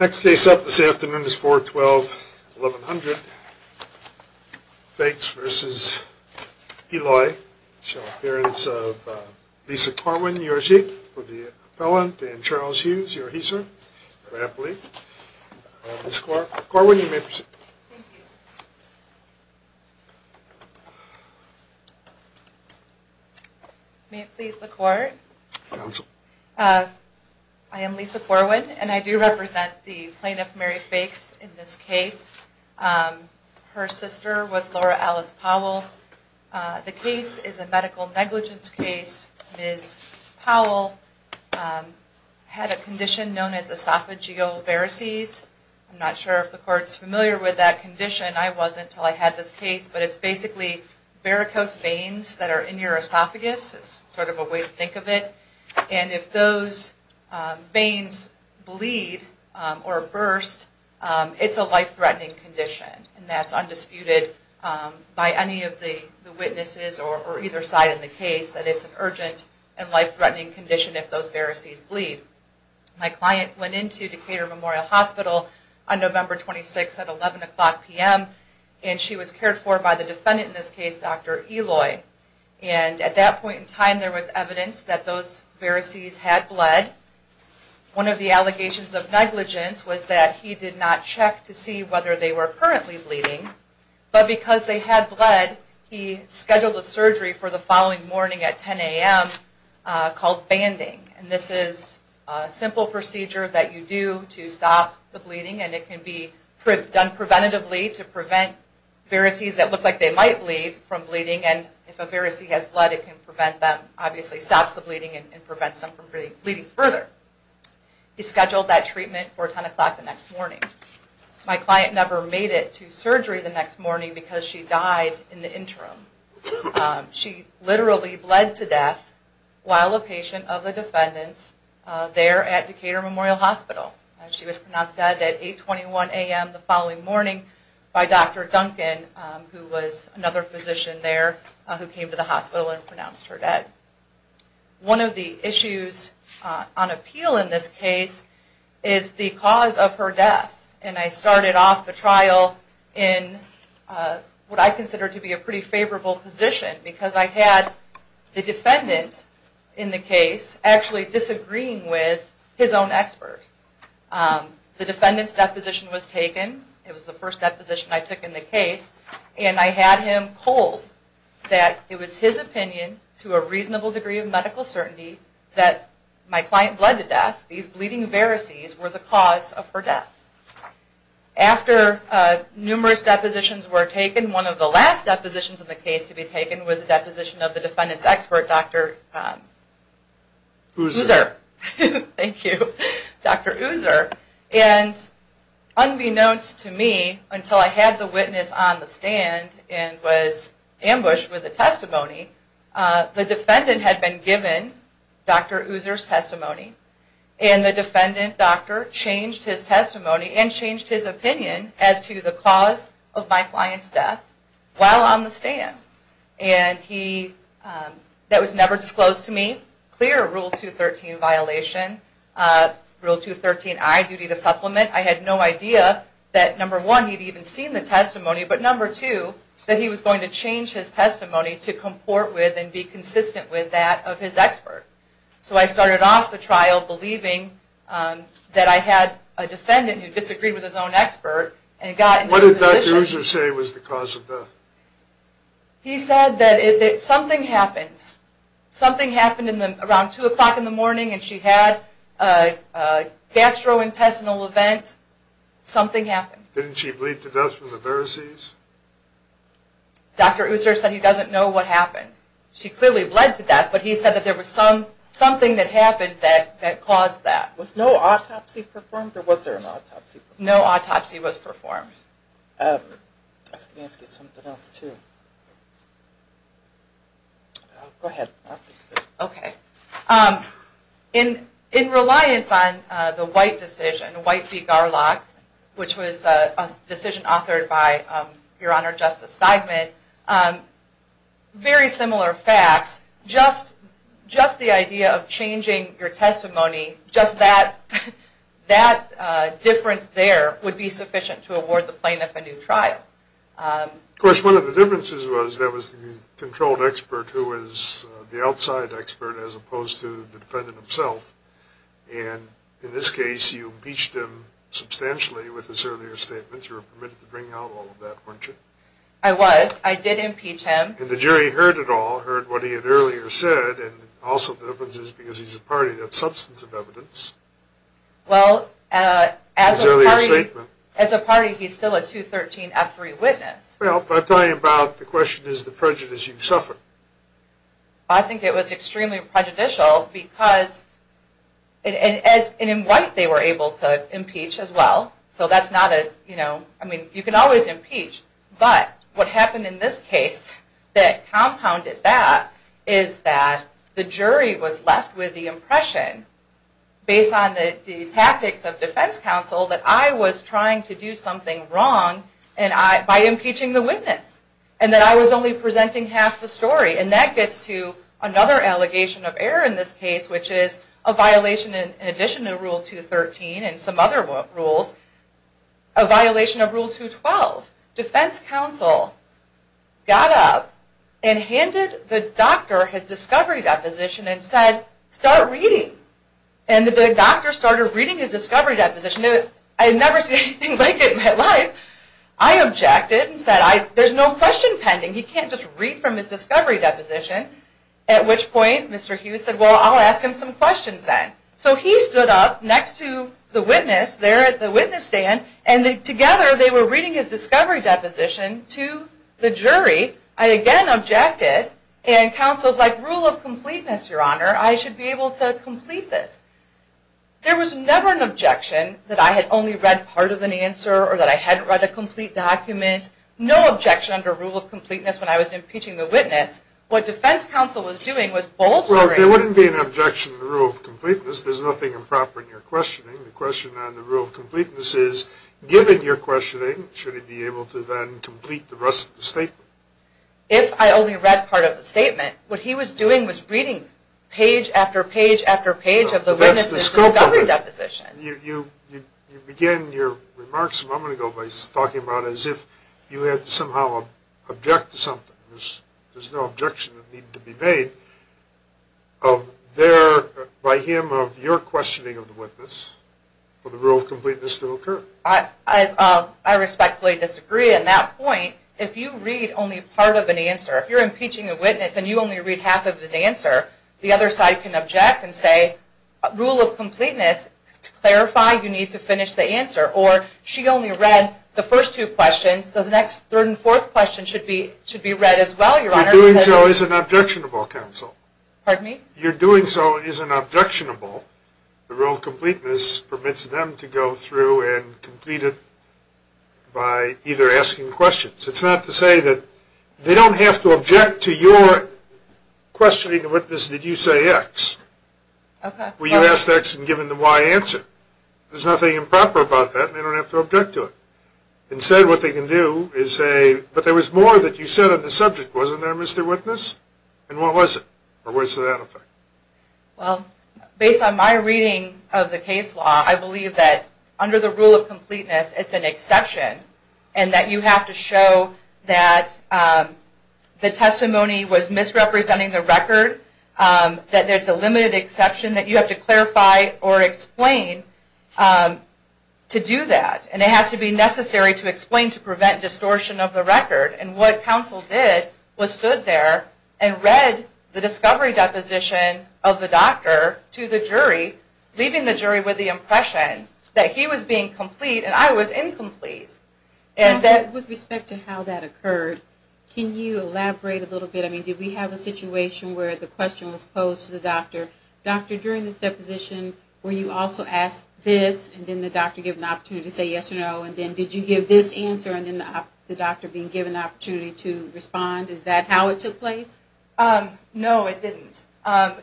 Next case up this afternoon is 4-12-1100. Fakes v. Eloy. Appearance of Lisa Corwin, U.S. Chief of the Appellant and Charles Hughes, U.S. Chief of the Appellate. Lisa Corwin, you may proceed. Thank you. May it please the Court? Counsel. I am Lisa Corwin, and I do represent the plaintiff Mary Fakes in this case. Her sister was Laura Alice Powell. The case is a medical negligence case. Ms. Powell had a condition known as esophageal varices. I'm not sure if the Court is familiar with that condition. I wasn't until I had this case, but it's basically varicose veins that are in your esophagus, is sort of a way to think of it. And if those veins bleed or burst, it's a life-threatening condition. And that's undisputed by any of the witnesses or either side in the case, that it's an urgent and life-threatening condition if those varices bleed. My client went into Decatur Memorial Hospital on November 26th at 11 o'clock p.m., and she was cared for by the defendant in this case, Dr. Eloy. And at that point in time, there was evidence that those varices had bled. One of the allegations of negligence was that he did not check to see whether they were currently bleeding, but because they had bled, he scheduled a surgery for the following morning at 10 a.m. called banding. And this is a simple procedure that you do to stop the bleeding, and it can be done preventatively to prevent varices that look like they might bleed from bleeding and if a varice has blood, it can prevent them. Obviously, it stops the bleeding and prevents them from bleeding further. He scheduled that treatment for 10 o'clock the next morning. My client never made it to surgery the next morning because she died in the interim. She literally bled to death while a patient of the defendant's there at Decatur Memorial Hospital. She was pronounced dead at 821 a.m. the following morning by Dr. Duncan, who was another physician there who came to the hospital and pronounced her dead. One of the issues on appeal in this case is the cause of her death, and I started off the trial in what I consider to be a pretty favorable position because I had the defendant in the case actually disagreeing with his own expert. The defendant's deposition was taken. It was the first deposition I took in the case, and I had him hold that it was his opinion to a reasonable degree of medical certainty that my client bled to death, these bleeding varices were the cause of her death. After numerous depositions were taken, one of the last depositions in the case to be taken was the deposition of the defendant's expert, Dr. User. Unbeknownst to me, until I had the witness on the stand and was ambushed with the testimony, the defendant had been given Dr. User's testimony, and the defendant doctor changed his testimony and changed his opinion as to the cause of my client's death while on the stand. That was never disclosed to me, clear Rule 213 violation. Rule 213i, duty to supplement. I had no idea that, number one, he had even seen the testimony, but number two, that he was going to change his testimony to comport with and be consistent with that of his expert. So I started off the trial believing that I had a defendant who disagreed with his own expert. What did Dr. User say was the cause of death? He said that something happened. Something happened around 2 o'clock in the morning and she had a gastrointestinal event. Something happened. Didn't she bleed to death from the varices? Dr. User said he doesn't know what happened. She clearly bled to death, but he said that there was something that happened that caused that. Was no autopsy performed or was there an autopsy performed? No autopsy was performed. I was going to ask you something else too. Go ahead. Okay. In reliance on the White decision, White v. Garlock, which was a decision authored by Your Honor Justice Steigman, very similar facts, just the idea of changing your testimony, just that difference there would be sufficient to award the plaintiff a new trial. Of course, one of the differences was that was the controlled expert who was the outside expert as opposed to the defendant himself. And in this case, you impeached him substantially with his earlier statements. You were permitted to bring out all of that, weren't you? I was. I did impeach him. And the jury heard it all, heard what he had earlier said, and also the difference is because he's a party, that's substantive evidence. Well, as a party, he's still a 213F3 witness. Well, I'm talking about the question is the prejudice you've suffered. I think it was extremely prejudicial because, and in White they were able to impeach as well, so you can always impeach, but what happened in this case that compounded that is that the jury was left with the impression, based on the tactics of defense counsel, that I was trying to do something wrong by impeaching the witness, and that I was only presenting half the story. And that gets to another allegation of error in this case, which is a violation in addition to Rule 213 and some other rules, a violation of Rule 212. Defense counsel got up and handed the doctor his discovery deposition and said, start reading. And the doctor started reading his discovery deposition. I had never seen anything like it in my life. I objected and said, there's no question pending. He can't just read from his discovery deposition. At which point Mr. Hughes said, well, I'll ask him some questions then. So he stood up next to the witness there at the witness stand, and together they were reading his discovery deposition to the jury. I again objected, and counsel was like, rule of completeness, Your Honor, I should be able to complete this. There was never an objection that I had only read part of an answer or that I hadn't read a complete document. No objection under rule of completeness when I was impeaching the witness. What defense counsel was doing was bolstering me. Well, there wouldn't be an objection to rule of completeness. There's nothing improper in your questioning. The question on the rule of completeness is, given your questioning, should he be able to then complete the rest of the statement? If I only read part of the statement, what he was doing was reading page after page after page of the witnesses' discovery deposition. You began your remarks a moment ago by talking about as if you had to somehow object to something. There's no objection that needed to be made by him of your questioning of the witness for the rule of completeness to occur. I respectfully disagree in that point. If you read only part of an answer, if you're impeaching a witness and you only read half of his answer, the other side can object and say, rule of completeness, to clarify, you need to finish the answer. Or, she only read the first two questions, so the next third and fourth questions should be read as well, Your Honor. Your doing so is an objectionable counsel. Pardon me? Your doing so is an objectionable. The rule of completeness permits them to go through and complete it by either asking questions. It's not to say that they don't have to object to your questioning the witness, did you say X? Were you asked X and given the Y answer? There's nothing improper about that, and they don't have to object to it. Instead, what they can do is say, but there was more that you said on the subject, wasn't there, Mr. Witness? And what was it? Or what is the effect? Well, based on my reading of the case law, I believe that under the rule of completeness it's an exception and that you have to show that the testimony was misrepresenting the record, that there's a limited exception that you have to clarify or explain to do that, and it has to be necessary to explain to prevent distortion of the record, and what counsel did was stood there and read the discovery deposition of the doctor to the jury, leaving the jury with the impression that he was being complete and I was incomplete. Counsel, with respect to how that occurred, can you elaborate a little bit? I mean, did we have a situation where the question was posed to the doctor, doctor, during this deposition were you also asked this, and then the doctor gave an opportunity to say yes or no, and then did you give this answer, and then the doctor being given the opportunity to respond? Is that how it took place? No, it didn't.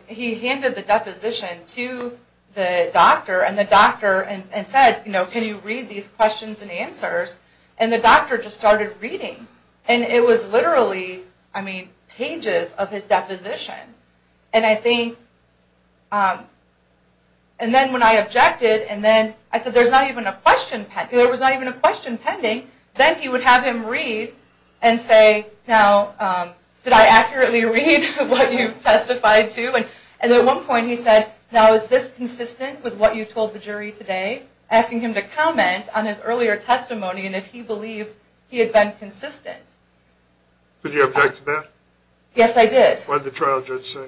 He handed the deposition to the doctor and the doctor said, you know, can you read these questions and answers, and the doctor just started reading, and it was literally, I mean, pages of his deposition, and I think, and then when I objected, and then I said there's not even a question, there was not even a question pending, then he would have him read and say, now did I accurately read what you testified to, and at one point he said, now is this consistent with what you told the jury today, asking him to comment on his earlier testimony, and if he believed he had been consistent. Did you object to that? Yes, I did. What did the trial judge say?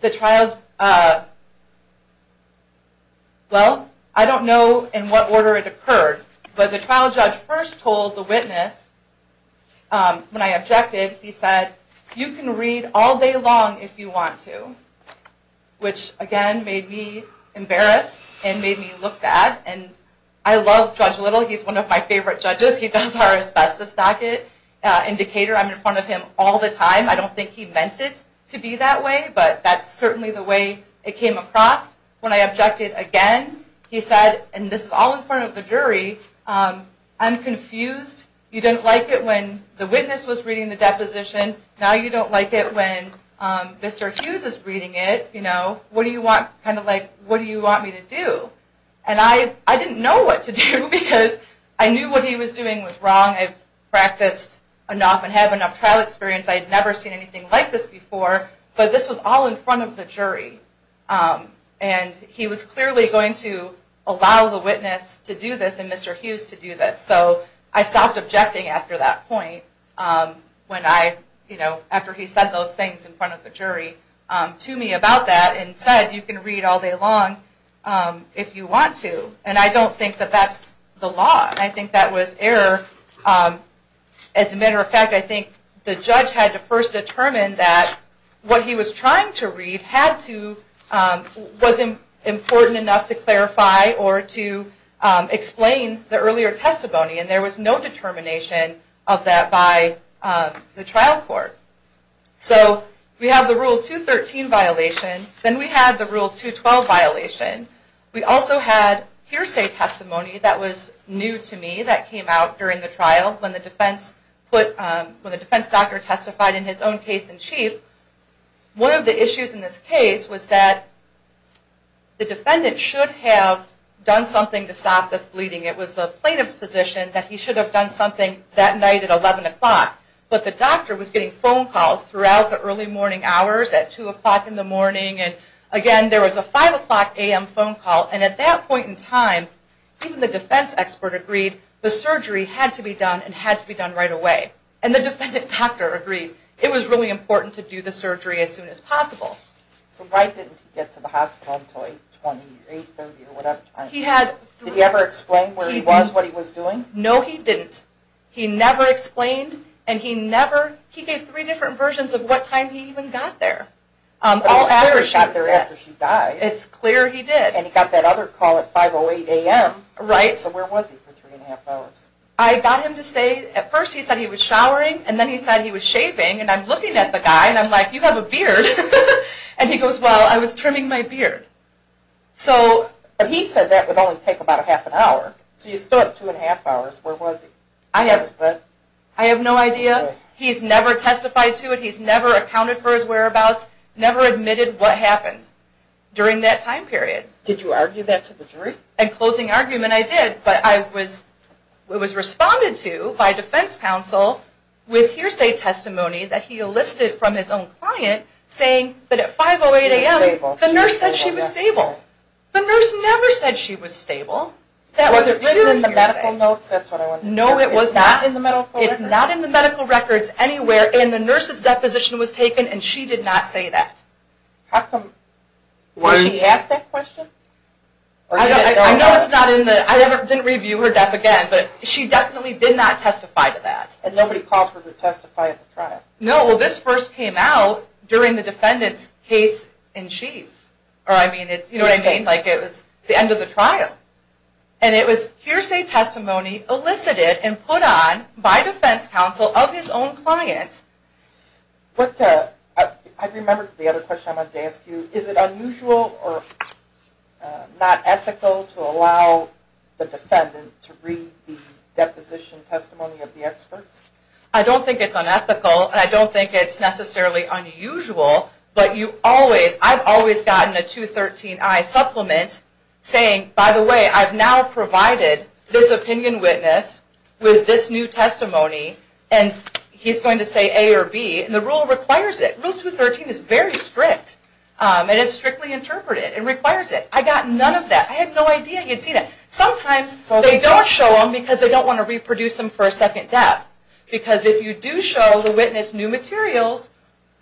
The trial, well, I don't know in what order it occurred, but the trial judge first told the witness, when I objected, he said, you can read all day long if you want to, which, again, made me embarrassed and made me look bad, and I love Judge Little, he's one of my favorite judges, he does our asbestos docket indicator, I'm in front of him all the time, I don't think he meant it to be that way, but that's certainly the way it came across. When I objected again, he said, and this is all in front of the jury, I'm confused, you didn't like it when the witness was reading the deposition, now you don't like it when Mr. Hughes is reading it, you know, what do you want, kind of like, what do you want me to do? And I didn't know what to do, because I knew what he was doing was wrong, I've practiced enough and had enough trial experience, I'd never seen anything like this before, but this was all in front of the jury, and he was clearly going to allow the witness to do this and Mr. Hughes to do this, so I stopped objecting after that point, when I, you know, after he said those things in front of the jury to me about that and said, you can read all day long if you want to, and I don't think that that's the law, I think that was error, as a matter of fact, I think the judge had to first determine that what he was trying to read had to, was important enough to clarify or to explain the earlier testimony, and there was no determination of that by the trial court. So we have the Rule 213 violation, then we have the Rule 212 violation, we also had hearsay testimony that was new to me that came out during the trial, when the defense put, when the defense doctor testified in his own case in chief, one of the issues in this case was that the defendant should have done something to stop this bleeding, it was the plaintiff's position that he should have done something that night at 11 o'clock, but the doctor was getting phone calls throughout the early morning hours at 2 o'clock in the morning, and again, there was a 5 o'clock a.m. phone call, and at that point in time, even the defense expert agreed the surgery had to be done and had to be done right away, and the defendant doctor agreed it was really important to do the surgery as soon as possible. So why didn't he get to the hospital until 8, 20, 30, or whatever time? Did he ever explain where he was, what he was doing? No, he didn't. He never explained, and he never, he gave three different versions of what time he even got there. It was clear he got there after she died. It's clear he did. And he got that other call at 5, 08 a.m. Right. So where was he for three and a half hours? I got him to say, at first he said he was showering, and then he said he was shaving, and I'm looking at the guy, and I'm like, you have a beard, and he goes, well, I was trimming my beard. But he said that would only take about a half an hour. So you still have two and a half hours. Where was he? I have no idea. He's never testified to it. He's never accounted for his whereabouts, never admitted what happened during that time period. Did you argue that to the jury? In closing argument, I did, but I was responded to by defense counsel with hearsay testimony that he elicited from his own client, saying that at 5, 08 a.m., the nurse said she was stable. The nurse never said she was stable. Was it written in the medical notes? No, it was not. It's not in the medical records. It's not in the medical records anywhere, and the nurse's deposition was taken, and she did not say that. How come? Was she asked that question? I know it's not in the, I didn't review her death again, but she definitely did not testify to that. And nobody called her to testify at the trial? No, well, this first came out during the defendant's case in chief. You know what I mean? It was the end of the trial. And it was hearsay testimony elicited and put on by defense counsel of his own client. I remembered the other question I wanted to ask you. Is it unusual or not ethical to allow the defendant to read the deposition testimony of the experts? I don't think it's unethical, and I don't think it's necessarily unusual, but you always, I've always gotten a 213i supplement saying, by the way, I've now provided this opinion witness with this new testimony, and he's going to say A or B, and the rule requires it. Rule 213 is very strict. It is strictly interpreted. It requires it. I got none of that. I had no idea he had seen it. Sometimes they don't show them because they don't want to reproduce them for a second death, because if you do show the witness new materials,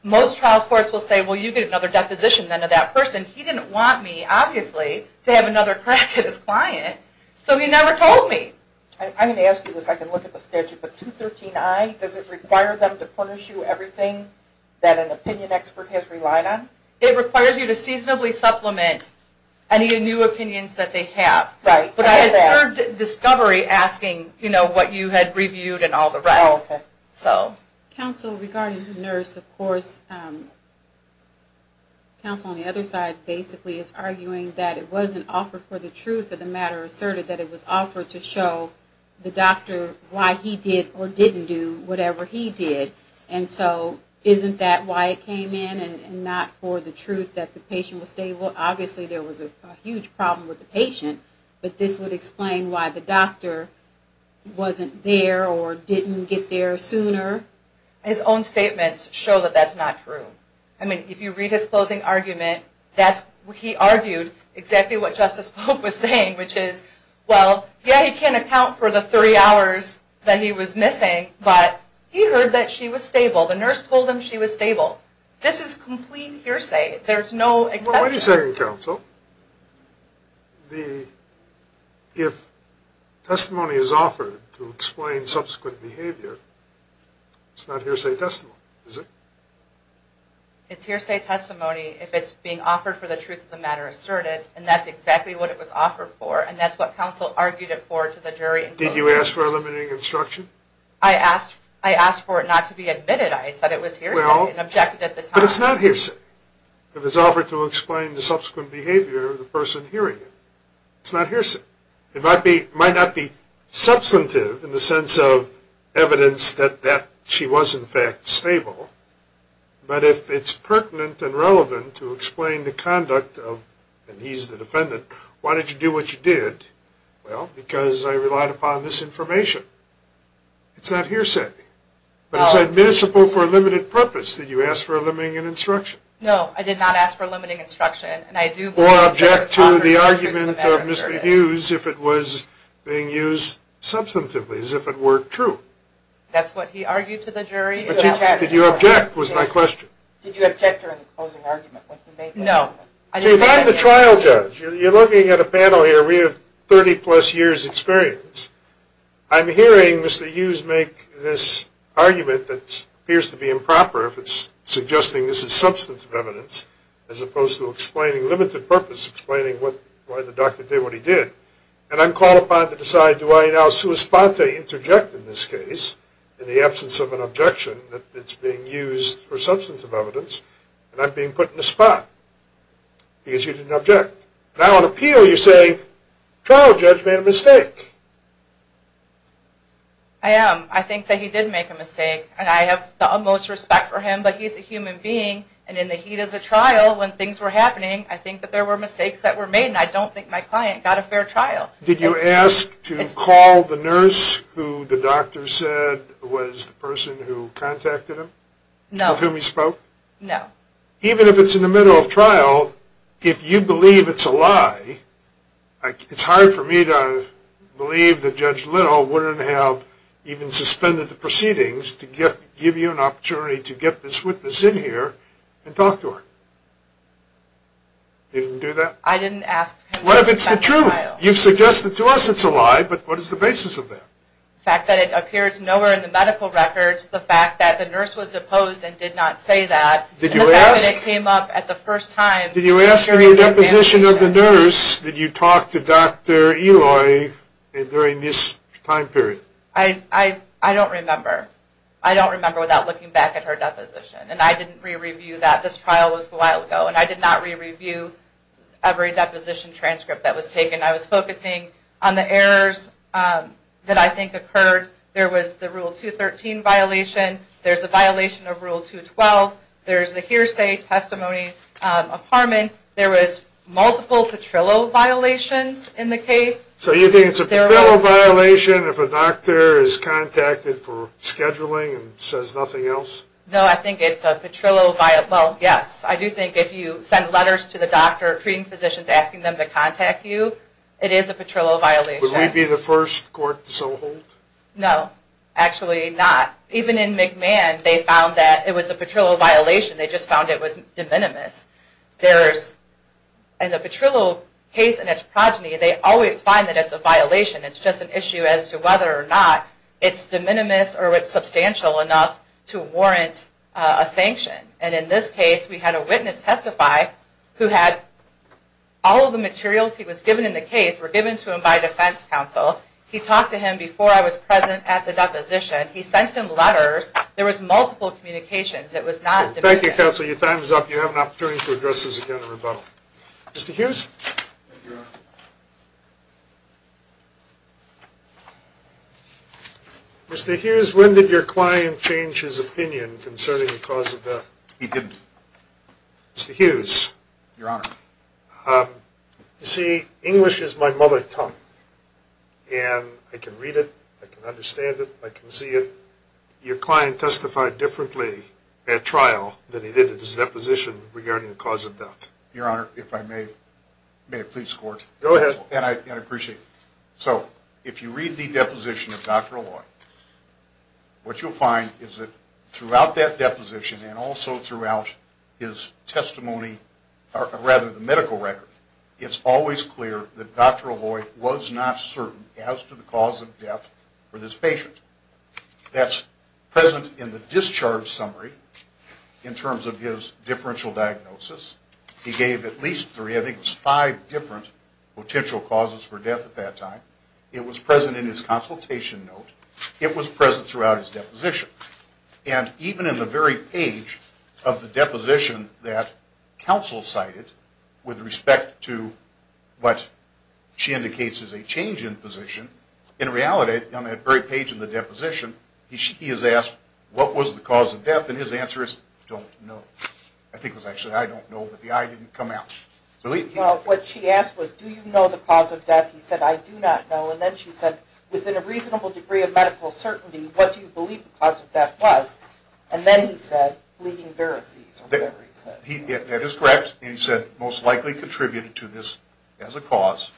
most trial courts will say, well, you get another deposition then of that person. He didn't want me, obviously, to have another crack at his client, so he never told me. I'm going to ask you this. I can look at the statute. The 213i, does it require them to punish you everything that an opinion expert has relied on? It requires you to seasonably supplement any new opinions that they have. Right. But I observed discovery asking, you know, what you had reviewed and all the rest. Okay. So. Counsel, regarding the nurse, of course, counsel on the other side basically is arguing that it wasn't offered for the truth of the matter asserted that it was offered to show the doctor why he did or didn't do whatever he did. And so isn't that why it came in and not for the truth that the patient was stable? Obviously, there was a huge problem with the patient, but this would explain why the doctor wasn't there or didn't get there sooner. His own statements show that that's not true. I mean, if you read his closing argument, he argued exactly what Justice Pope was saying, which is, well, yeah, he can't account for the three hours that he was missing, but he heard that she was stable. The nurse told him she was stable. This is complete hearsay. There's no exception. Well, wait a second, counsel. If testimony is offered to explain subsequent behavior, it's not hearsay testimony, is it? It's hearsay testimony if it's being offered for the truth of the matter asserted, and that's exactly what it was offered for, and that's what counsel argued it for to the jury. Did you ask for eliminating instruction? I asked for it not to be admitted. I said it was hearsay and objected at the time. But it's not hearsay if it's offered to explain the subsequent behavior of the person hearing it. It's not hearsay. It might not be substantive in the sense of evidence that she was, in fact, stable, but if it's pertinent and relevant to explain the conduct of, and he's the defendant, why did you do what you did? Well, because I relied upon this information. It's not hearsay. But it's admissible for a limited purpose that you ask for eliminating instruction. No, I did not ask for eliminating instruction. Or object to the argument of Mr. Hughes if it was being used substantively, as if it were true. That's what he argued to the jury. Did you object was my question. Did you object during the closing argument? No. See, if I'm the trial judge, you're looking at a panel here. We have 30-plus years' experience. I'm hearing Mr. Hughes make this argument that appears to be improper if it's suggesting this is substantive evidence, as opposed to explaining a limited purpose, explaining why the doctor did what he did. And I'm called upon to decide do I now sua sponte, interject in this case, in the absence of an objection that it's being used for substantive evidence, and I'm being put in the spot because you didn't object. Now, on appeal, you say, trial judge made a mistake. I am. I think that he did make a mistake, and I have the utmost respect for him, but he's a human being, and in the heat of the trial when things were happening, I think that there were mistakes that were made, and I don't think my client got a fair trial. Did you ask to call the nurse who the doctor said was the person who contacted him? No. Of whom he spoke? No. Even if it's in the middle of trial, if you believe it's a lie, it's hard for me to believe that Judge Little wouldn't have even suspended the proceedings to give you an opportunity to get this witness in here and talk to her. You didn't do that? I didn't ask him to suspend the trial. What if it's the truth? You've suggested to us it's a lie, but what is the basis of that? The fact that it appears nowhere in the medical records. The fact that the nurse was deposed and did not say that. The fact that it came up at the first time. Did you ask in your deposition of the nurse, did you talk to Dr. Eloy during this time period? I don't remember. I don't remember without looking back at her deposition, and I didn't re-review that. This trial was a while ago, and I did not re-review every deposition transcript that was taken. I was focusing on the errors that I think occurred. There was the Rule 213 violation. There's a violation of Rule 212. There's a hearsay testimony of Harmon. There was multiple patrillo violations in the case. So you think it's a patrillo violation if a doctor is contacted for scheduling and says nothing else? No, I think it's a patrillo violation. Well, yes, I do think if you send letters to the doctor, treating physicians asking them to contact you, it is a patrillo violation. Would we be the first court to so hold? No, actually not. Even in McMahon, they found that it was a patrillo violation. They just found it was de minimis. In the patrillo case and its progeny, they always find that it's a violation. It's just an issue as to whether or not it's de minimis or it's substantial enough to warrant a sanction. And in this case, we had a witness testify who had all of the materials he was given in the case were given to him by defense counsel. He talked to him before I was present at the deposition. He sent him letters. There was multiple communications. It was not de minimis. Thank you, counsel. Your time is up. You have an opportunity to address this again in rebuttal. Mr. Hughes? Thank you, Your Honor. Mr. Hughes, when did your client change his opinion concerning the cause of death? He didn't. Mr. Hughes? Your Honor. You see, English is my mother tongue. And I can read it. I can understand it. I can see it. Your client testified differently at trial than he did at his deposition regarding the cause of death. Your Honor, if I may, may I please squirt? Go ahead. And I appreciate it. So if you read the deposition of Dr. Aloi, what you'll find is that throughout that deposition and also throughout his testimony, or rather the medical record, it's always clear that Dr. Aloi was not certain as to the cause of death for this patient. That's present in the discharge summary in terms of his differential diagnosis. He gave at least three, I think it was five, different potential causes for death at that time. It was present in his consultation note. It was present throughout his deposition. And even in the very page of the deposition that counsel cited with respect to what she indicates is a change in position, in reality, on that very page of the deposition, he is asked, what was the cause of death? And his answer is, don't know. I think it was actually I don't know, but the I didn't come out. Well, what she asked was, do you know the cause of death? He said, I do not know. And then she said, within a reasonable degree of medical certainty, what do you believe the cause of death was? And then he said, bleeding varices or whatever he said. That is correct. And he said, most likely contributed to this as a cause.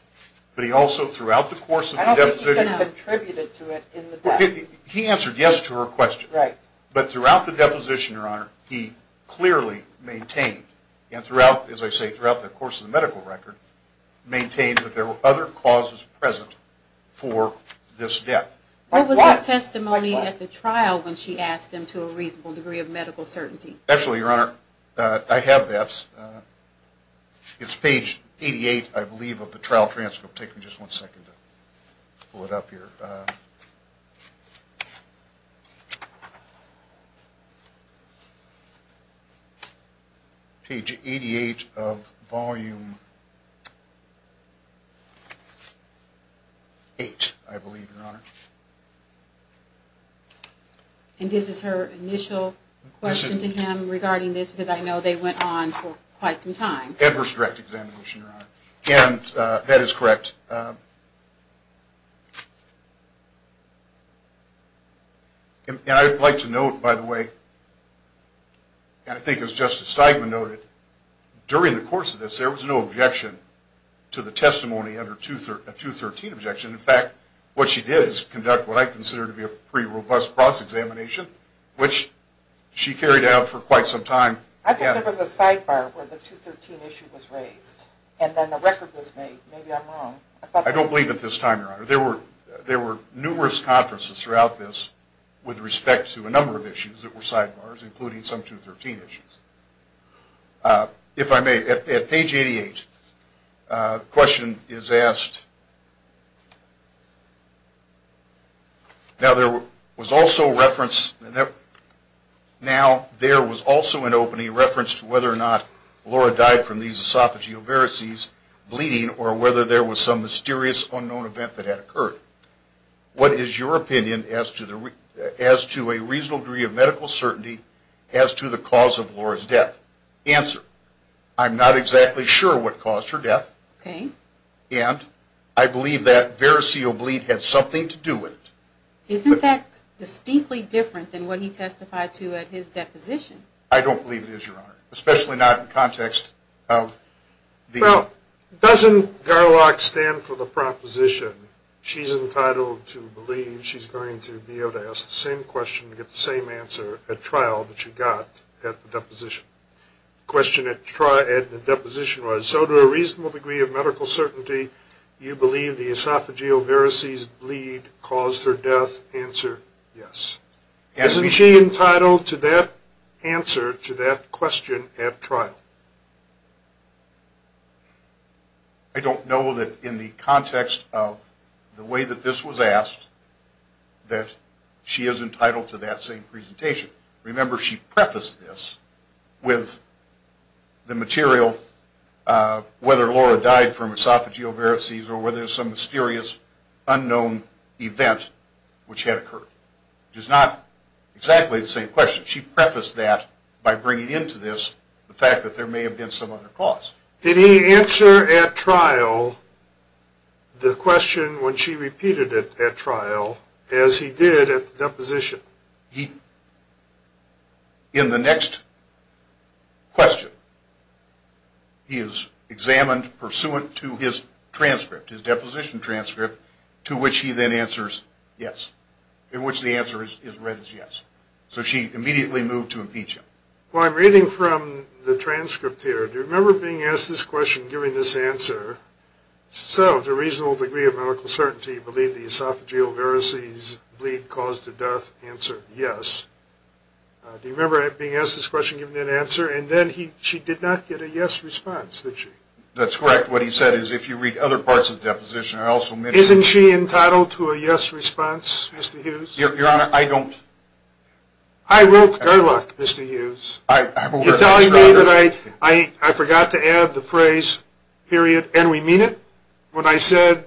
But he also throughout the course of the deposition I don't think he said contributed to it in the death. He answered yes to her question. Right. But throughout the deposition, Your Honor, he clearly maintained, and throughout, as I say, throughout the course of the medical record, maintained that there were other causes present for this death. What was his testimony at the trial when she asked him to a reasonable degree of medical certainty? Actually, Your Honor, I have that. It's page 88, I believe, of the trial transcript. Take me just one second to pull it up here. Page 88 of Volume 8, I believe, Your Honor. And this is her initial question to him regarding this, because I know they went on for quite some time. Edwards Direct Examination, Your Honor. And that is correct. And I'd like to note, by the way, and I think as Justice Steigman noted, during the course of this there was no objection to the testimony under a 213 objection. In fact, what she did is conduct what I consider to be a pretty robust cross-examination, which she carried out for quite some time. I think there was a sidebar where the 213 issue was raised, and then the record was made. Maybe I'm wrong. I don't believe at this time, Your Honor. There were numerous conferences throughout this with respect to a number of issues that were sidebars, including some 213 issues. If I may, at page 88, the question is asked, Now, there was also an opening reference to whether or not Laura died from these esophageal varices, bleeding, or whether there was some mysterious unknown event that had occurred. What is your opinion as to a reasonable degree of medical certainty as to the cause of Laura's death? Answer, I'm not exactly sure what caused her death. Okay. And I believe that variceal bleed had something to do with it. Isn't that distinctly different than what he testified to at his deposition? I don't believe it is, Your Honor, especially not in context of the Well, doesn't Garlock stand for the proposition she's entitled to believe she's going to be able to ask the same question and get the same answer at trial that she got at the deposition? Question at trial at the deposition was, So to a reasonable degree of medical certainty, you believe the esophageal varices bleed caused her death? Answer, yes. Isn't she entitled to that answer to that question at trial? I don't know that in the context of the way that this was asked that she is entitled to that same presentation. Remember, she prefaced this with the material whether Laura died from esophageal varices or whether there's some mysterious unknown event which had occurred. It is not exactly the same question. She prefaced that by bringing into this the fact that there may have been some other cause. Did he answer at trial the question when she repeated it at trial as he did at the deposition? He, in the next question, he is examined pursuant to his transcript, his deposition transcript, to which he then answers yes, in which the answer is read as yes. So she immediately moved to impeach him. Well, I'm reading from the transcript here. Do you remember being asked this question and giving this answer? So, to a reasonable degree of medical certainty, you believe the esophageal varices bleed caused her death? Answer, yes. Do you remember being asked this question and giving that answer? And then she did not get a yes response, did she? That's correct. What he said is if you read other parts of the deposition, I also mentioned that. Isn't she entitled to a yes response, Mr. Hughes? I wrote Gerlach, Mr. Hughes. You're telling me that I forgot to add the phrase, period, and we mean it when I said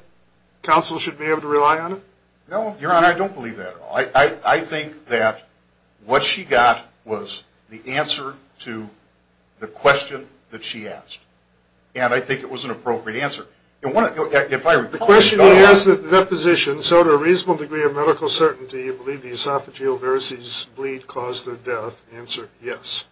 counsel should be able to rely on it? No, Your Honor, I don't believe that at all. I think that what she got was the answer to the question that she asked. And I think it was an appropriate answer. The question he asked at the deposition, so to a reasonable degree of medical certainty, do you believe the esophageal varices bleed caused her death? Answer, yes.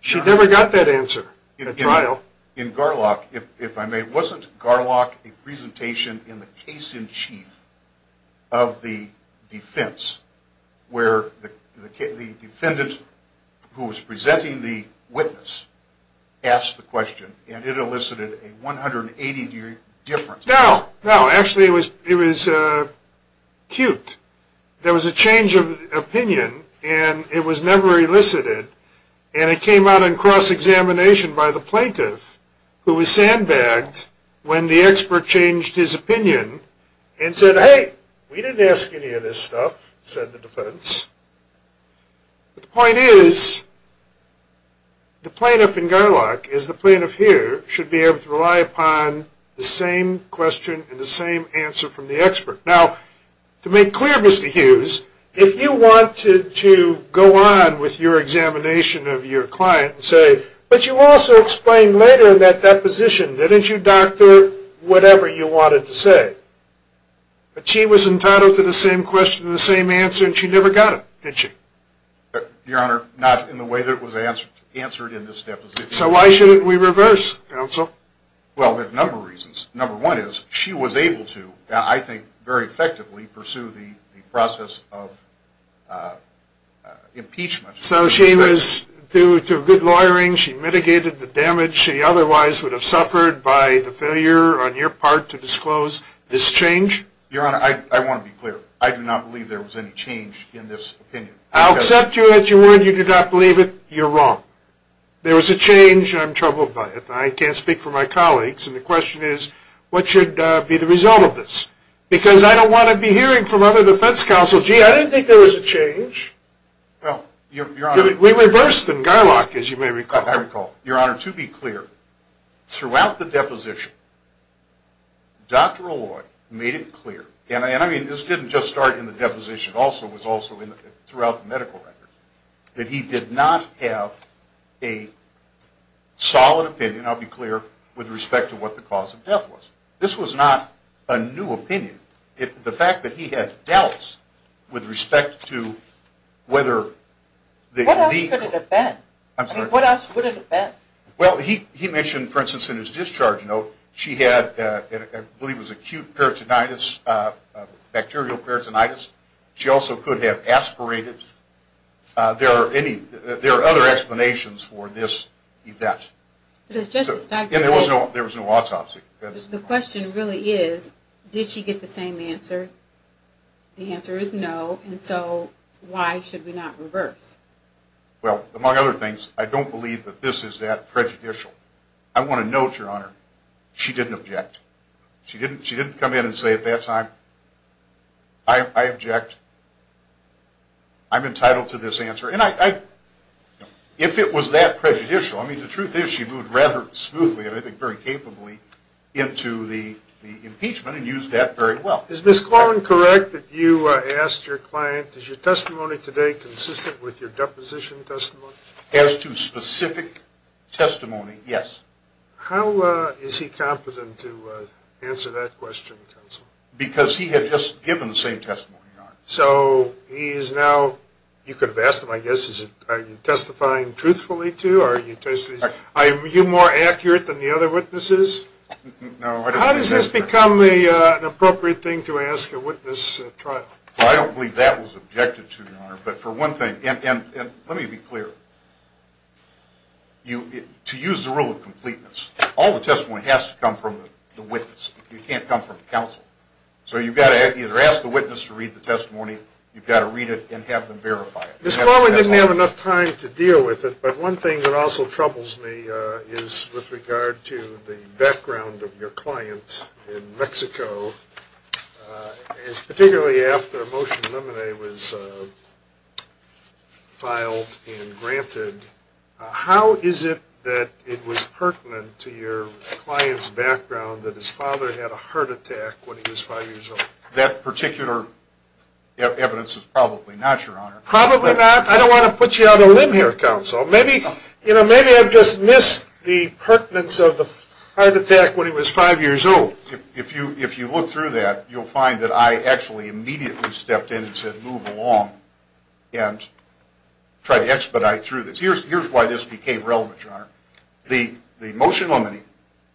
She never got that answer at trial. In Gerlach, if I may, wasn't Gerlach a presentation in the case in chief of the defense where the defendant, who was presenting the witness, asked the question, and it elicited a 180-year difference? No, no. Actually, it was cute. There was a change of opinion, and it was never elicited. And it came out in cross-examination by the plaintiff, who was sandbagged when the expert changed his opinion and said, hey, we didn't ask any of this stuff, said the defense. But the point is, the plaintiff in Gerlach, as the plaintiff here, should be able to rely upon the same question and the same answer from the expert. Now, to make clear, Mr. Hughes, if you wanted to go on with your examination of your client and say, but you also explained later in that deposition, didn't you, doctor, whatever you wanted to say? But she was entitled to the same question and the same answer, and she never got it, didn't she? Your Honor, not in the way that it was answered in this deposition. So why shouldn't we reverse, counsel? Well, there are a number of reasons. Number one is, she was able to, I think, very effectively pursue the process of impeachment. So she was due to good lawyering, she mitigated the damage she otherwise would have suffered by the failure, on your part, to disclose this change. Your Honor, I want to be clear. I do not believe there was any change in this opinion. I'll accept you that you do not believe it. You're wrong. There was a change, and I'm troubled by it. I can't speak for my colleagues, and the question is, what should be the result of this? Because I don't want to be hearing from other defense counsel, gee, I didn't think there was a change. Well, Your Honor. We reversed in Gerlach, as you may recall. I recall. Your Honor, to be clear, throughout the deposition, Dr. Alloy made it clear, and I mean this didn't just start in the deposition also, it was also throughout the medical record, that he did not have a solid opinion, I'll be clear, with respect to what the cause of death was. This was not a new opinion. The fact that he had dealt with respect to whether the legal. What else could it have been? Well, he mentioned, for instance, in his discharge note, she had, I believe it was acute peritonitis, bacterial peritonitis. She also could have aspirated. There are other explanations for this event. There was no autopsy. The question really is, did she get the same answer? The answer is no, and so why should we not reverse? Well, among other things, I don't believe that this is that prejudicial. I want to note, Your Honor, she didn't object. She didn't come in and say at that time, I object, I'm entitled to this answer. And if it was that prejudicial, I mean the truth is she moved rather smoothly, and I think very capably, into the impeachment and used that very well. Is Ms. Corwin correct that you asked your client, is your testimony today consistent with your deposition testimony? As to specific testimony, yes. How is he competent to answer that question, counsel? Because he had just given the same testimony, Your Honor. So he is now, you could have asked him, I guess, are you testifying truthfully to, or are you more accurate than the other witnesses? No, I don't believe that. How does this become an appropriate thing to ask a witness at trial? Well, I don't believe that was objected to, Your Honor, but for one thing, and let me be clear, to use the rule of completeness, all the testimony has to come from the witness. It can't come from counsel. So you've got to either ask the witness to read the testimony, you've got to read it and have them verify it. Ms. Corwin didn't have enough time to deal with it, but one thing that also troubles me is with regard to the background of your client in Mexico. Particularly after a motion to eliminate was filed and granted, how is it that it was pertinent to your client's background that his father had a heart attack when he was five years old? That particular evidence is probably not, Your Honor. Probably not? I don't want to put you on a limb here, Counsel. Maybe I've just missed the pertinence of the heart attack when he was five years old. If you look through that, you'll find that I actually immediately stepped in and said, move along, and tried to expedite through this. Here's why this became relevant, Your Honor. The motion limiting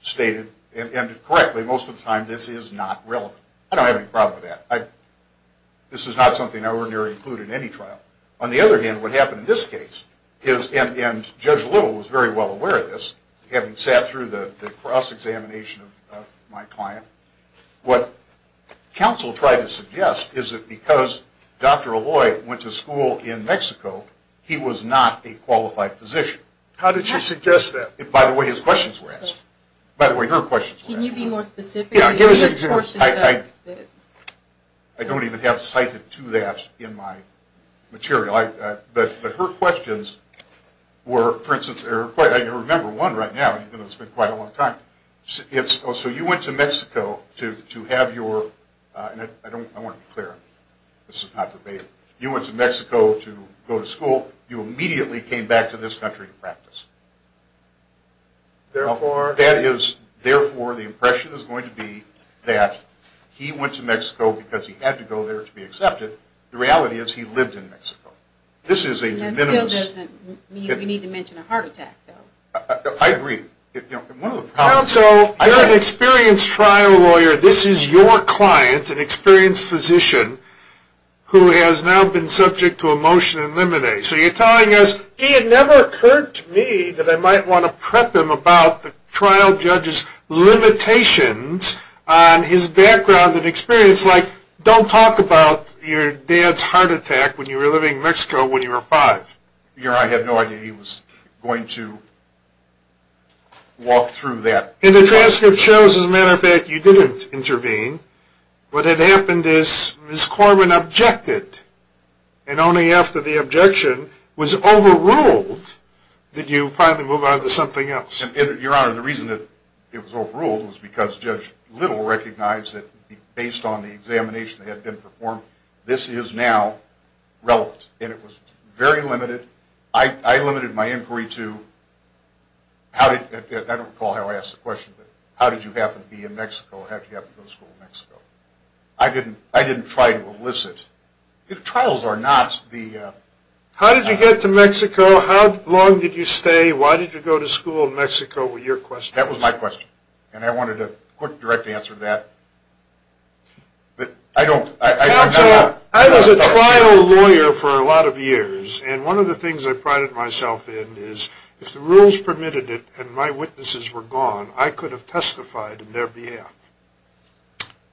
stated, and correctly, most of the time, this is not relevant. I don't have any problem with that. This is not something I would ordinarily include in any trial. On the other hand, what happened in this case, and Judge Little was very well aware of this, having sat through the cross-examination of my client, what Counsel tried to suggest is that because Dr. Aloy went to school in Mexico, he was not a qualified physician. How did she suggest that? By the way, his questions were asked. By the way, her questions were asked. Can you be more specific? I don't even have cited to that in my material. But her questions were, for instance, I can remember one right now. It's been quite a long time. So you went to Mexico to have your, and I want to be clear, this is not verbatim. You went to Mexico to go to school. You immediately came back to this country to practice. Therefore? Therefore, the impression is going to be that he went to Mexico because he had to go there to be accepted. The reality is he lived in Mexico. This is a de minimis. That still doesn't mean we need to mention a heart attack, though. I agree. Counsel, you're an experienced trial lawyer. This is your client, an experienced physician, who has now been subject to a motion to eliminate. Okay, so you're telling us, gee, it never occurred to me that I might want to prep him about the trial judge's limitations on his background and experience. Like, don't talk about your dad's heart attack when you were living in Mexico when you were five. I had no idea he was going to walk through that. And the transcript shows, as a matter of fact, you didn't intervene. What had happened is Ms. Corwin objected. And only after the objection was overruled did you finally move on to something else. Your Honor, the reason that it was overruled was because Judge Little recognized that based on the examination that had been performed, this is now relevant. And it was very limited. I limited my inquiry to, I don't recall how I asked the question, but how did you happen to be in Mexico? How did you happen to go to school in Mexico? I didn't try to elicit. The trials are not the... How did you get to Mexico? How long did you stay? Why did you go to school in Mexico? Were your questions... That was my question. And I wanted a quick, direct answer to that. But I don't... Counselor, I was a trial lawyer for a lot of years. And one of the things I prided myself in is, if the rules permitted it and my witnesses were gone, I could have testified in their behalf.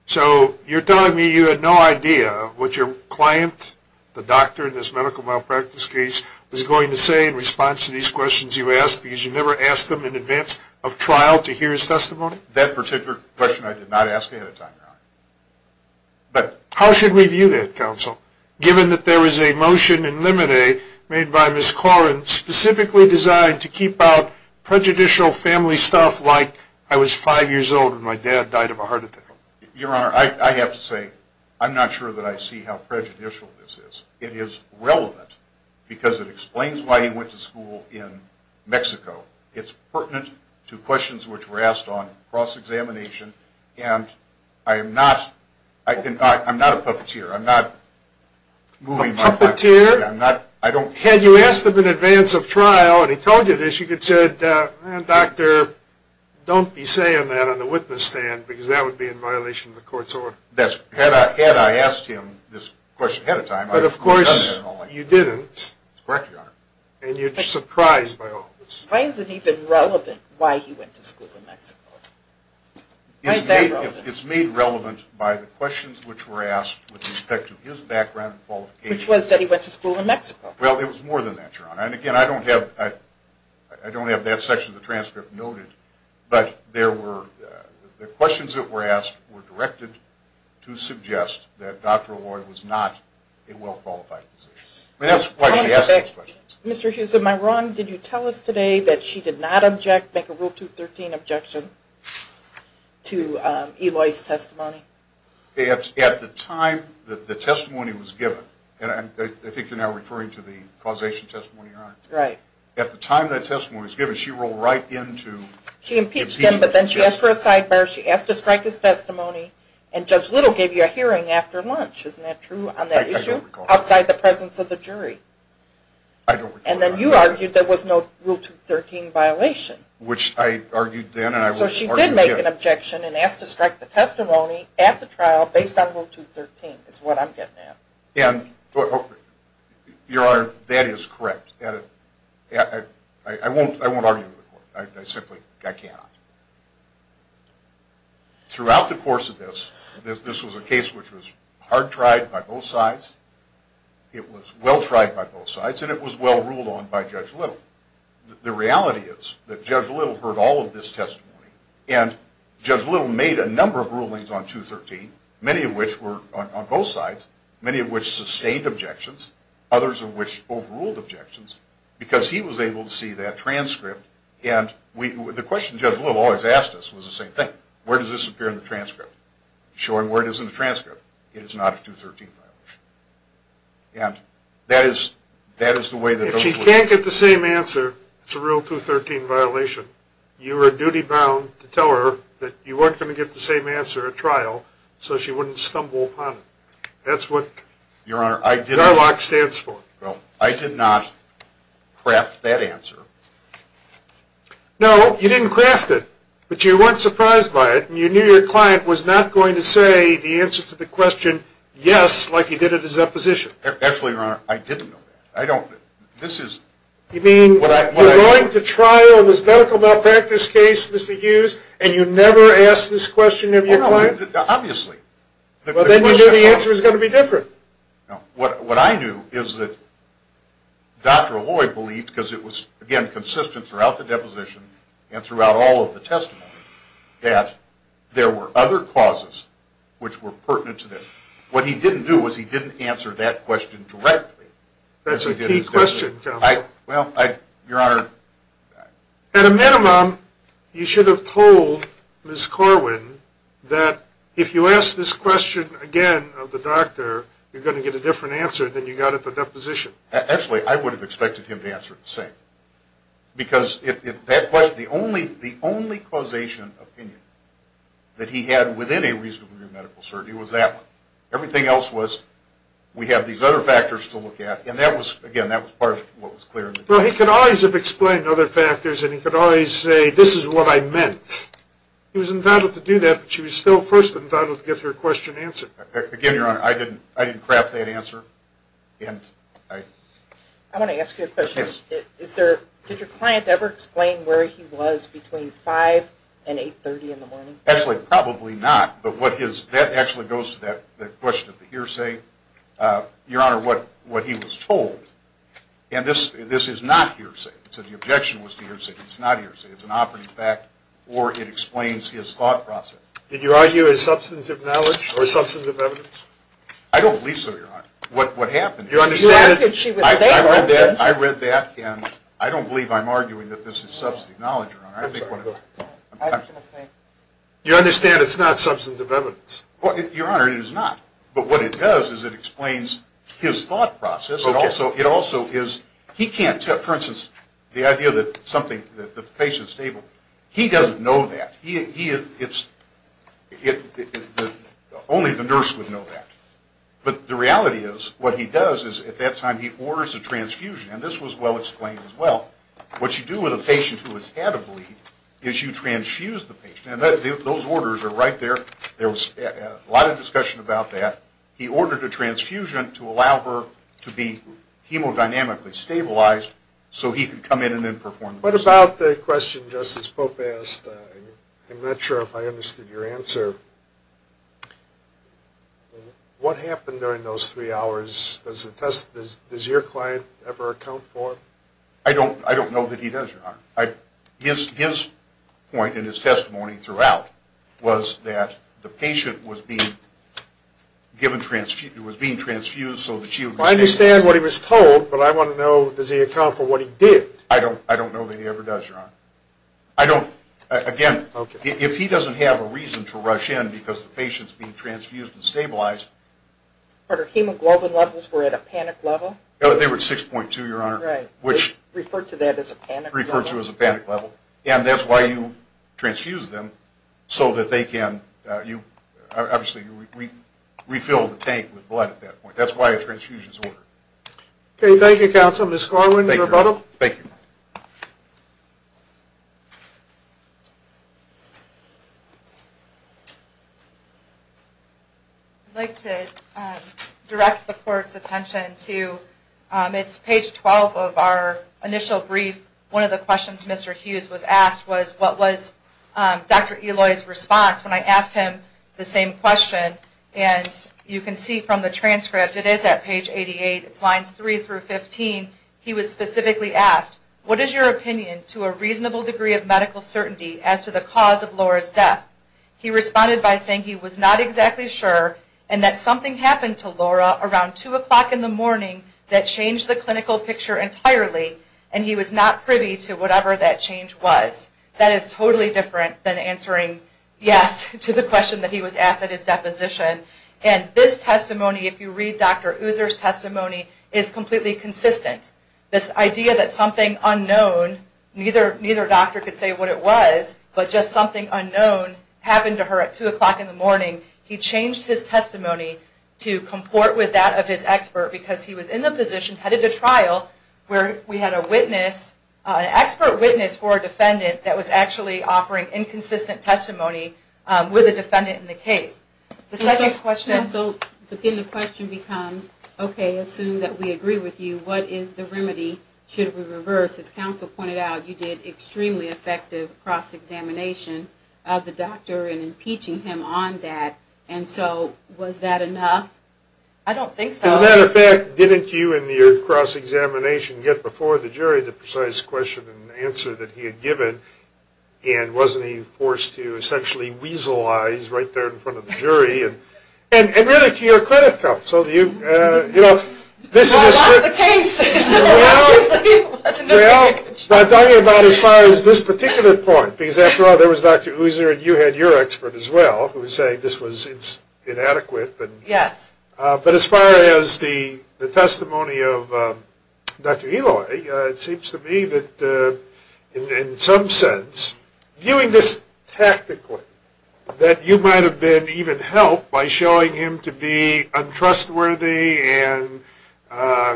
So you're telling me you had no idea what your client, the doctor in this medical malpractice case, was going to say in response to these questions you asked, because you never asked them in advance of trial to hear his testimony? That particular question I did not ask ahead of time, Your Honor. But how should we view that, Counsel, given that there is a motion in limine made by Ms. Corrin specifically designed to keep out prejudicial family stuff like I was five years old when my dad died of a heart attack? Your Honor, I have to say I'm not sure that I see how prejudicial this is. It is relevant because it explains why he went to school in Mexico. It's pertinent to questions which were asked on cross-examination, and I am not a puppeteer. I'm not moving my... A puppeteer? I'm not... Had you asked him in advance of trial, and he told you this, you could have said, Doctor, don't be saying that on the witness stand, because that would be in violation of the court's order. Had I asked him this question ahead of time, I would have done that only. But of course you didn't. That's correct, Your Honor. And you're surprised by all of this. Why is it even relevant why he went to school in Mexico? It's made relevant by the questions which were asked with respect to his background and qualifications. Which was that he went to school in Mexico. Well, it was more than that, Your Honor. And again, I don't have that section of the transcript noted, but the questions that were asked were directed to suggest that Dr. Eloy was not a well-qualified physician. I mean, that's why she asked those questions. Mr. Hughes, am I wrong? Did you tell us today that she did not make a Rule 213 objection to Eloy's testimony? At the time that the testimony was given, and I think you're now referring to the causation testimony, Your Honor. Right. At the time that testimony was given, she rolled right into impeachment. She impeached him, but then she asked for a sidebar. She asked to strike his testimony, and Judge Little gave you a hearing after lunch. Isn't that true on that issue? I don't recall that. Outside the presence of the jury. I don't recall that. And then you argued there was no Rule 213 violation. Which I argued then, and I will argue again. So she did make an objection and asked to strike the testimony at the trial based on Rule 213 is what I'm getting at. Your Honor, that is correct. I won't argue with the court. I simply cannot. Throughout the course of this, this was a case which was hard tried by both sides. It was well tried by both sides, and it was well ruled on by Judge Little. The reality is that Judge Little heard all of this testimony, and Judge Little made a number of rulings on 213, many of which were on both sides. Many of which sustained objections. Others of which overruled objections. Because he was able to see that transcript. And the question Judge Little always asked us was the same thing. Where does this appear in the transcript? Showing where it is in the transcript. It is not a 213 violation. And that is the way that those rules work. If she can't get the same answer, it's a real 213 violation. You are duty bound to tell her that you weren't going to get the same answer at trial, so she wouldn't stumble upon it. That's what DARLOCK stands for. Well, I did not craft that answer. No, you didn't craft it. But you weren't surprised by it. And you knew your client was not going to say the answer to the question, yes, like he did at his deposition. Actually, Your Honor, I didn't know that. I don't. You mean you're going to trial this medical malpractice case, Mr. Hughes, and you never asked this question of your client? Obviously. Well, then you knew the answer was going to be different. No. What I knew is that Dr. Lloyd believed, because it was, again, consistent throughout the deposition and throughout all of the testimony, that there were other causes which were pertinent to this. What he didn't do was he didn't answer that question directly. That's a key question, Counselor. Well, Your Honor. At a minimum, you should have told Ms. Corwin that if you ask this question again of the doctor, you're going to get a different answer than you got at the deposition. Actually, I would have expected him to answer it the same. Because that question, the only causation opinion that he had within a reasonable degree of medical certainty was that one. Everything else was we have these other factors to look at, and that was, again, that was part of what was clear. Well, he could always have explained other factors, and he could always say this is what I meant. He was entitled to do that, but she was still first entitled to get her question answered. Again, Your Honor, I didn't craft that answer. I want to ask you a question. Yes. Did your client ever explain where he was between 5 and 830 in the morning? Actually, probably not. But that actually goes to that question of the hearsay, Your Honor, what he was told. And this is not hearsay. So the objection was to hearsay. It's not hearsay. It's an operative fact, or it explains his thought process. Did you argue as substantive knowledge or substantive evidence? I don't believe so, Your Honor. What happened is I read that, and I don't believe I'm arguing that this is substantive knowledge, Your Honor. I think what it is. You understand it's not substantive evidence. Your Honor, it is not. But what it does is it explains his thought process. For instance, the idea that the patient is stable, he doesn't know that. Only the nurse would know that. But the reality is what he does is at that time he orders a transfusion. And this was well explained as well. What you do with a patient who has had a bleed is you transfuse the patient. And those orders are right there. There was a lot of discussion about that. He ordered a transfusion to allow her to be hemodynamically stabilized so he could come in and then perform the procedure. What about the question Justice Pope asked? I'm not sure if I understood your answer. What happened during those three hours? Does your client ever account for it? I don't know that he does, Your Honor. His point in his testimony throughout was that the patient was being transfused so that she would be stable. I understand what he was told, but I want to know does he account for what he did? I don't know that he ever does, Your Honor. Again, if he doesn't have a reason to rush in because the patient is being transfused and stabilized. But her hemoglobin levels were at a panic level? They were at 6.2, Your Honor. Referred to that as a panic level? Referred to as a panic level. And that's why you transfuse them so that they can refill the tank with blood at that point. That's why a transfusion is ordered. Thank you, counsel. Ms. Corwin, your rebuttal? Thank you. I'd like to direct the court's attention to it's page 12 of our initial brief. One of the questions Mr. Hughes was asked was what was Dr. Eloy's response when I asked him the same question. And you can see from the transcript, it is at page 88. It's lines 3 through 15. He was specifically asked, What is your opinion to a reasonable degree of medical certainty as to the cause of Laura's death? He responded by saying he was not exactly sure and that something happened to Laura around 2 o'clock in the morning that changed the clinical picture entirely and he was not privy to whatever that change was. That is totally different than answering yes to the question that he was asked at his deposition. And this testimony, if you read Dr. User's testimony, is completely consistent. This idea that something unknown, neither doctor could say what it was, but just something unknown happened to her at 2 o'clock in the morning, he changed his testimony to comport with that of his expert because he was in the position, headed to trial, where we had an expert witness for a defendant that was actually offering inconsistent testimony with a defendant in the case. The second question... So then the question becomes, Okay, assume that we agree with you. What is the remedy? Should we reverse? As counsel pointed out, you did extremely effective cross-examination of the doctor in impeaching him on that. And so was that enough? I don't think so. As a matter of fact, didn't you in your cross-examination get before the jury the precise question and answer that he had given? And wasn't he forced to essentially weasel eyes right there in front of the jury? And really, to your credit, counsel, you know, this is a... Well, a lot of the cases... Well, I'm talking about as far as this particular point, because after all, there was Dr. User, and you had your expert as well, who was saying this was inadequate. Yes. But as far as the testimony of Dr. Eloy, it seems to me that in some sense, viewing this tactically, that you might have been even helped by showing him to be untrustworthy and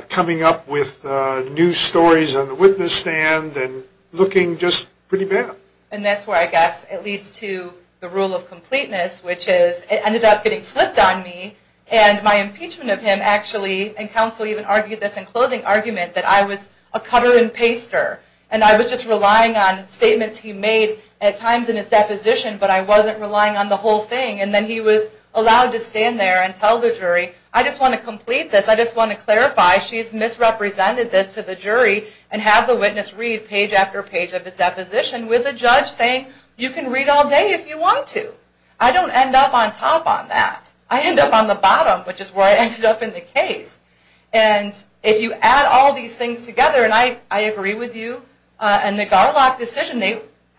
coming up with new stories on the witness stand and looking just pretty bad. And that's where I guess it leads to the rule of completeness, which is, it ended up getting flipped on me, and my impeachment of him actually, and counsel even argued this in closing argument, that I was a cutter and paster. And I was just relying on statements he made at times in his deposition, but I wasn't relying on the whole thing. And then he was allowed to stand there and tell the jury, I just want to complete this, I just want to clarify, she's misrepresented this to the jury, and have the witness read page after page of his deposition with the judge saying, you can read all day if you want to. I don't end up on top on that. I end up on the bottom, which is where I ended up in the case. And if you add all these things together, and I agree with you, and the Garlock decision,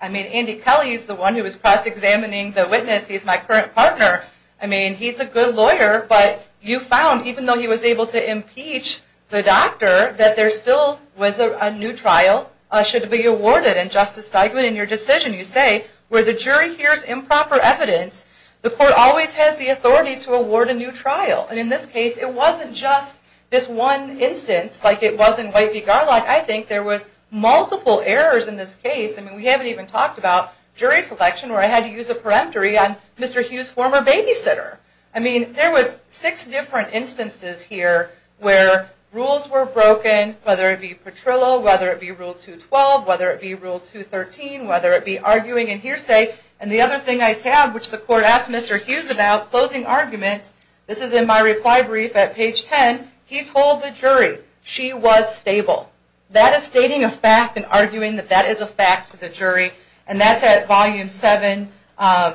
I mean, Andy Kelly is the one who was cross-examining the witness, he's my current partner, I mean, he's a good lawyer, but you found, even though he was able to impeach the doctor, that there still was a new trial should be awarded, and Justice Steigman, in your decision, you say, where the jury hears improper evidence, the court always has the authority to award a new trial. And in this case, it wasn't just this one instance, like it was in White v. Garlock, I think there was multiple errors in this case, and we haven't even talked about jury selection, where I had to use a peremptory on Mr. Hughes, former babysitter. I mean, there was six different instances here where rules were broken, whether it be Petrillo, whether it be Rule 212, whether it be Rule 213, whether it be arguing and hearsay, and the other thing I have, which the court asked Mr. Hughes about, closing argument, this is in my reply brief at page 10, he told the jury she was stable. That is stating a fact and arguing that that is a fact to the jury, and that's at volume 7, line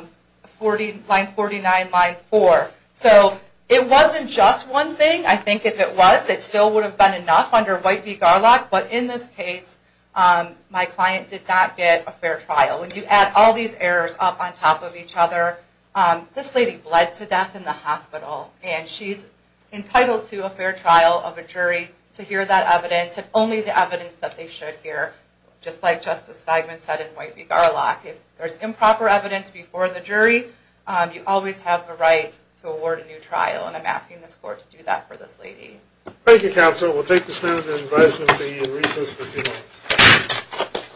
49, line 4. So it wasn't just one thing, I think if it was, it still would have been enough under White v. Garlock, but in this case, my client did not get a fair trial. When you add all these errors up on top of each other, this lady bled to death in the hospital, and she's entitled to a fair trial of a jury to hear that evidence, and only the evidence that they should hear, just like Justice Steinman said in White v. Garlock. If there's improper evidence before the jury, you always have the right to award a new trial, and I'm asking this court to do that for this lady. Thank you, counsel. We'll take this matter into advisement to be in recess for a few moments.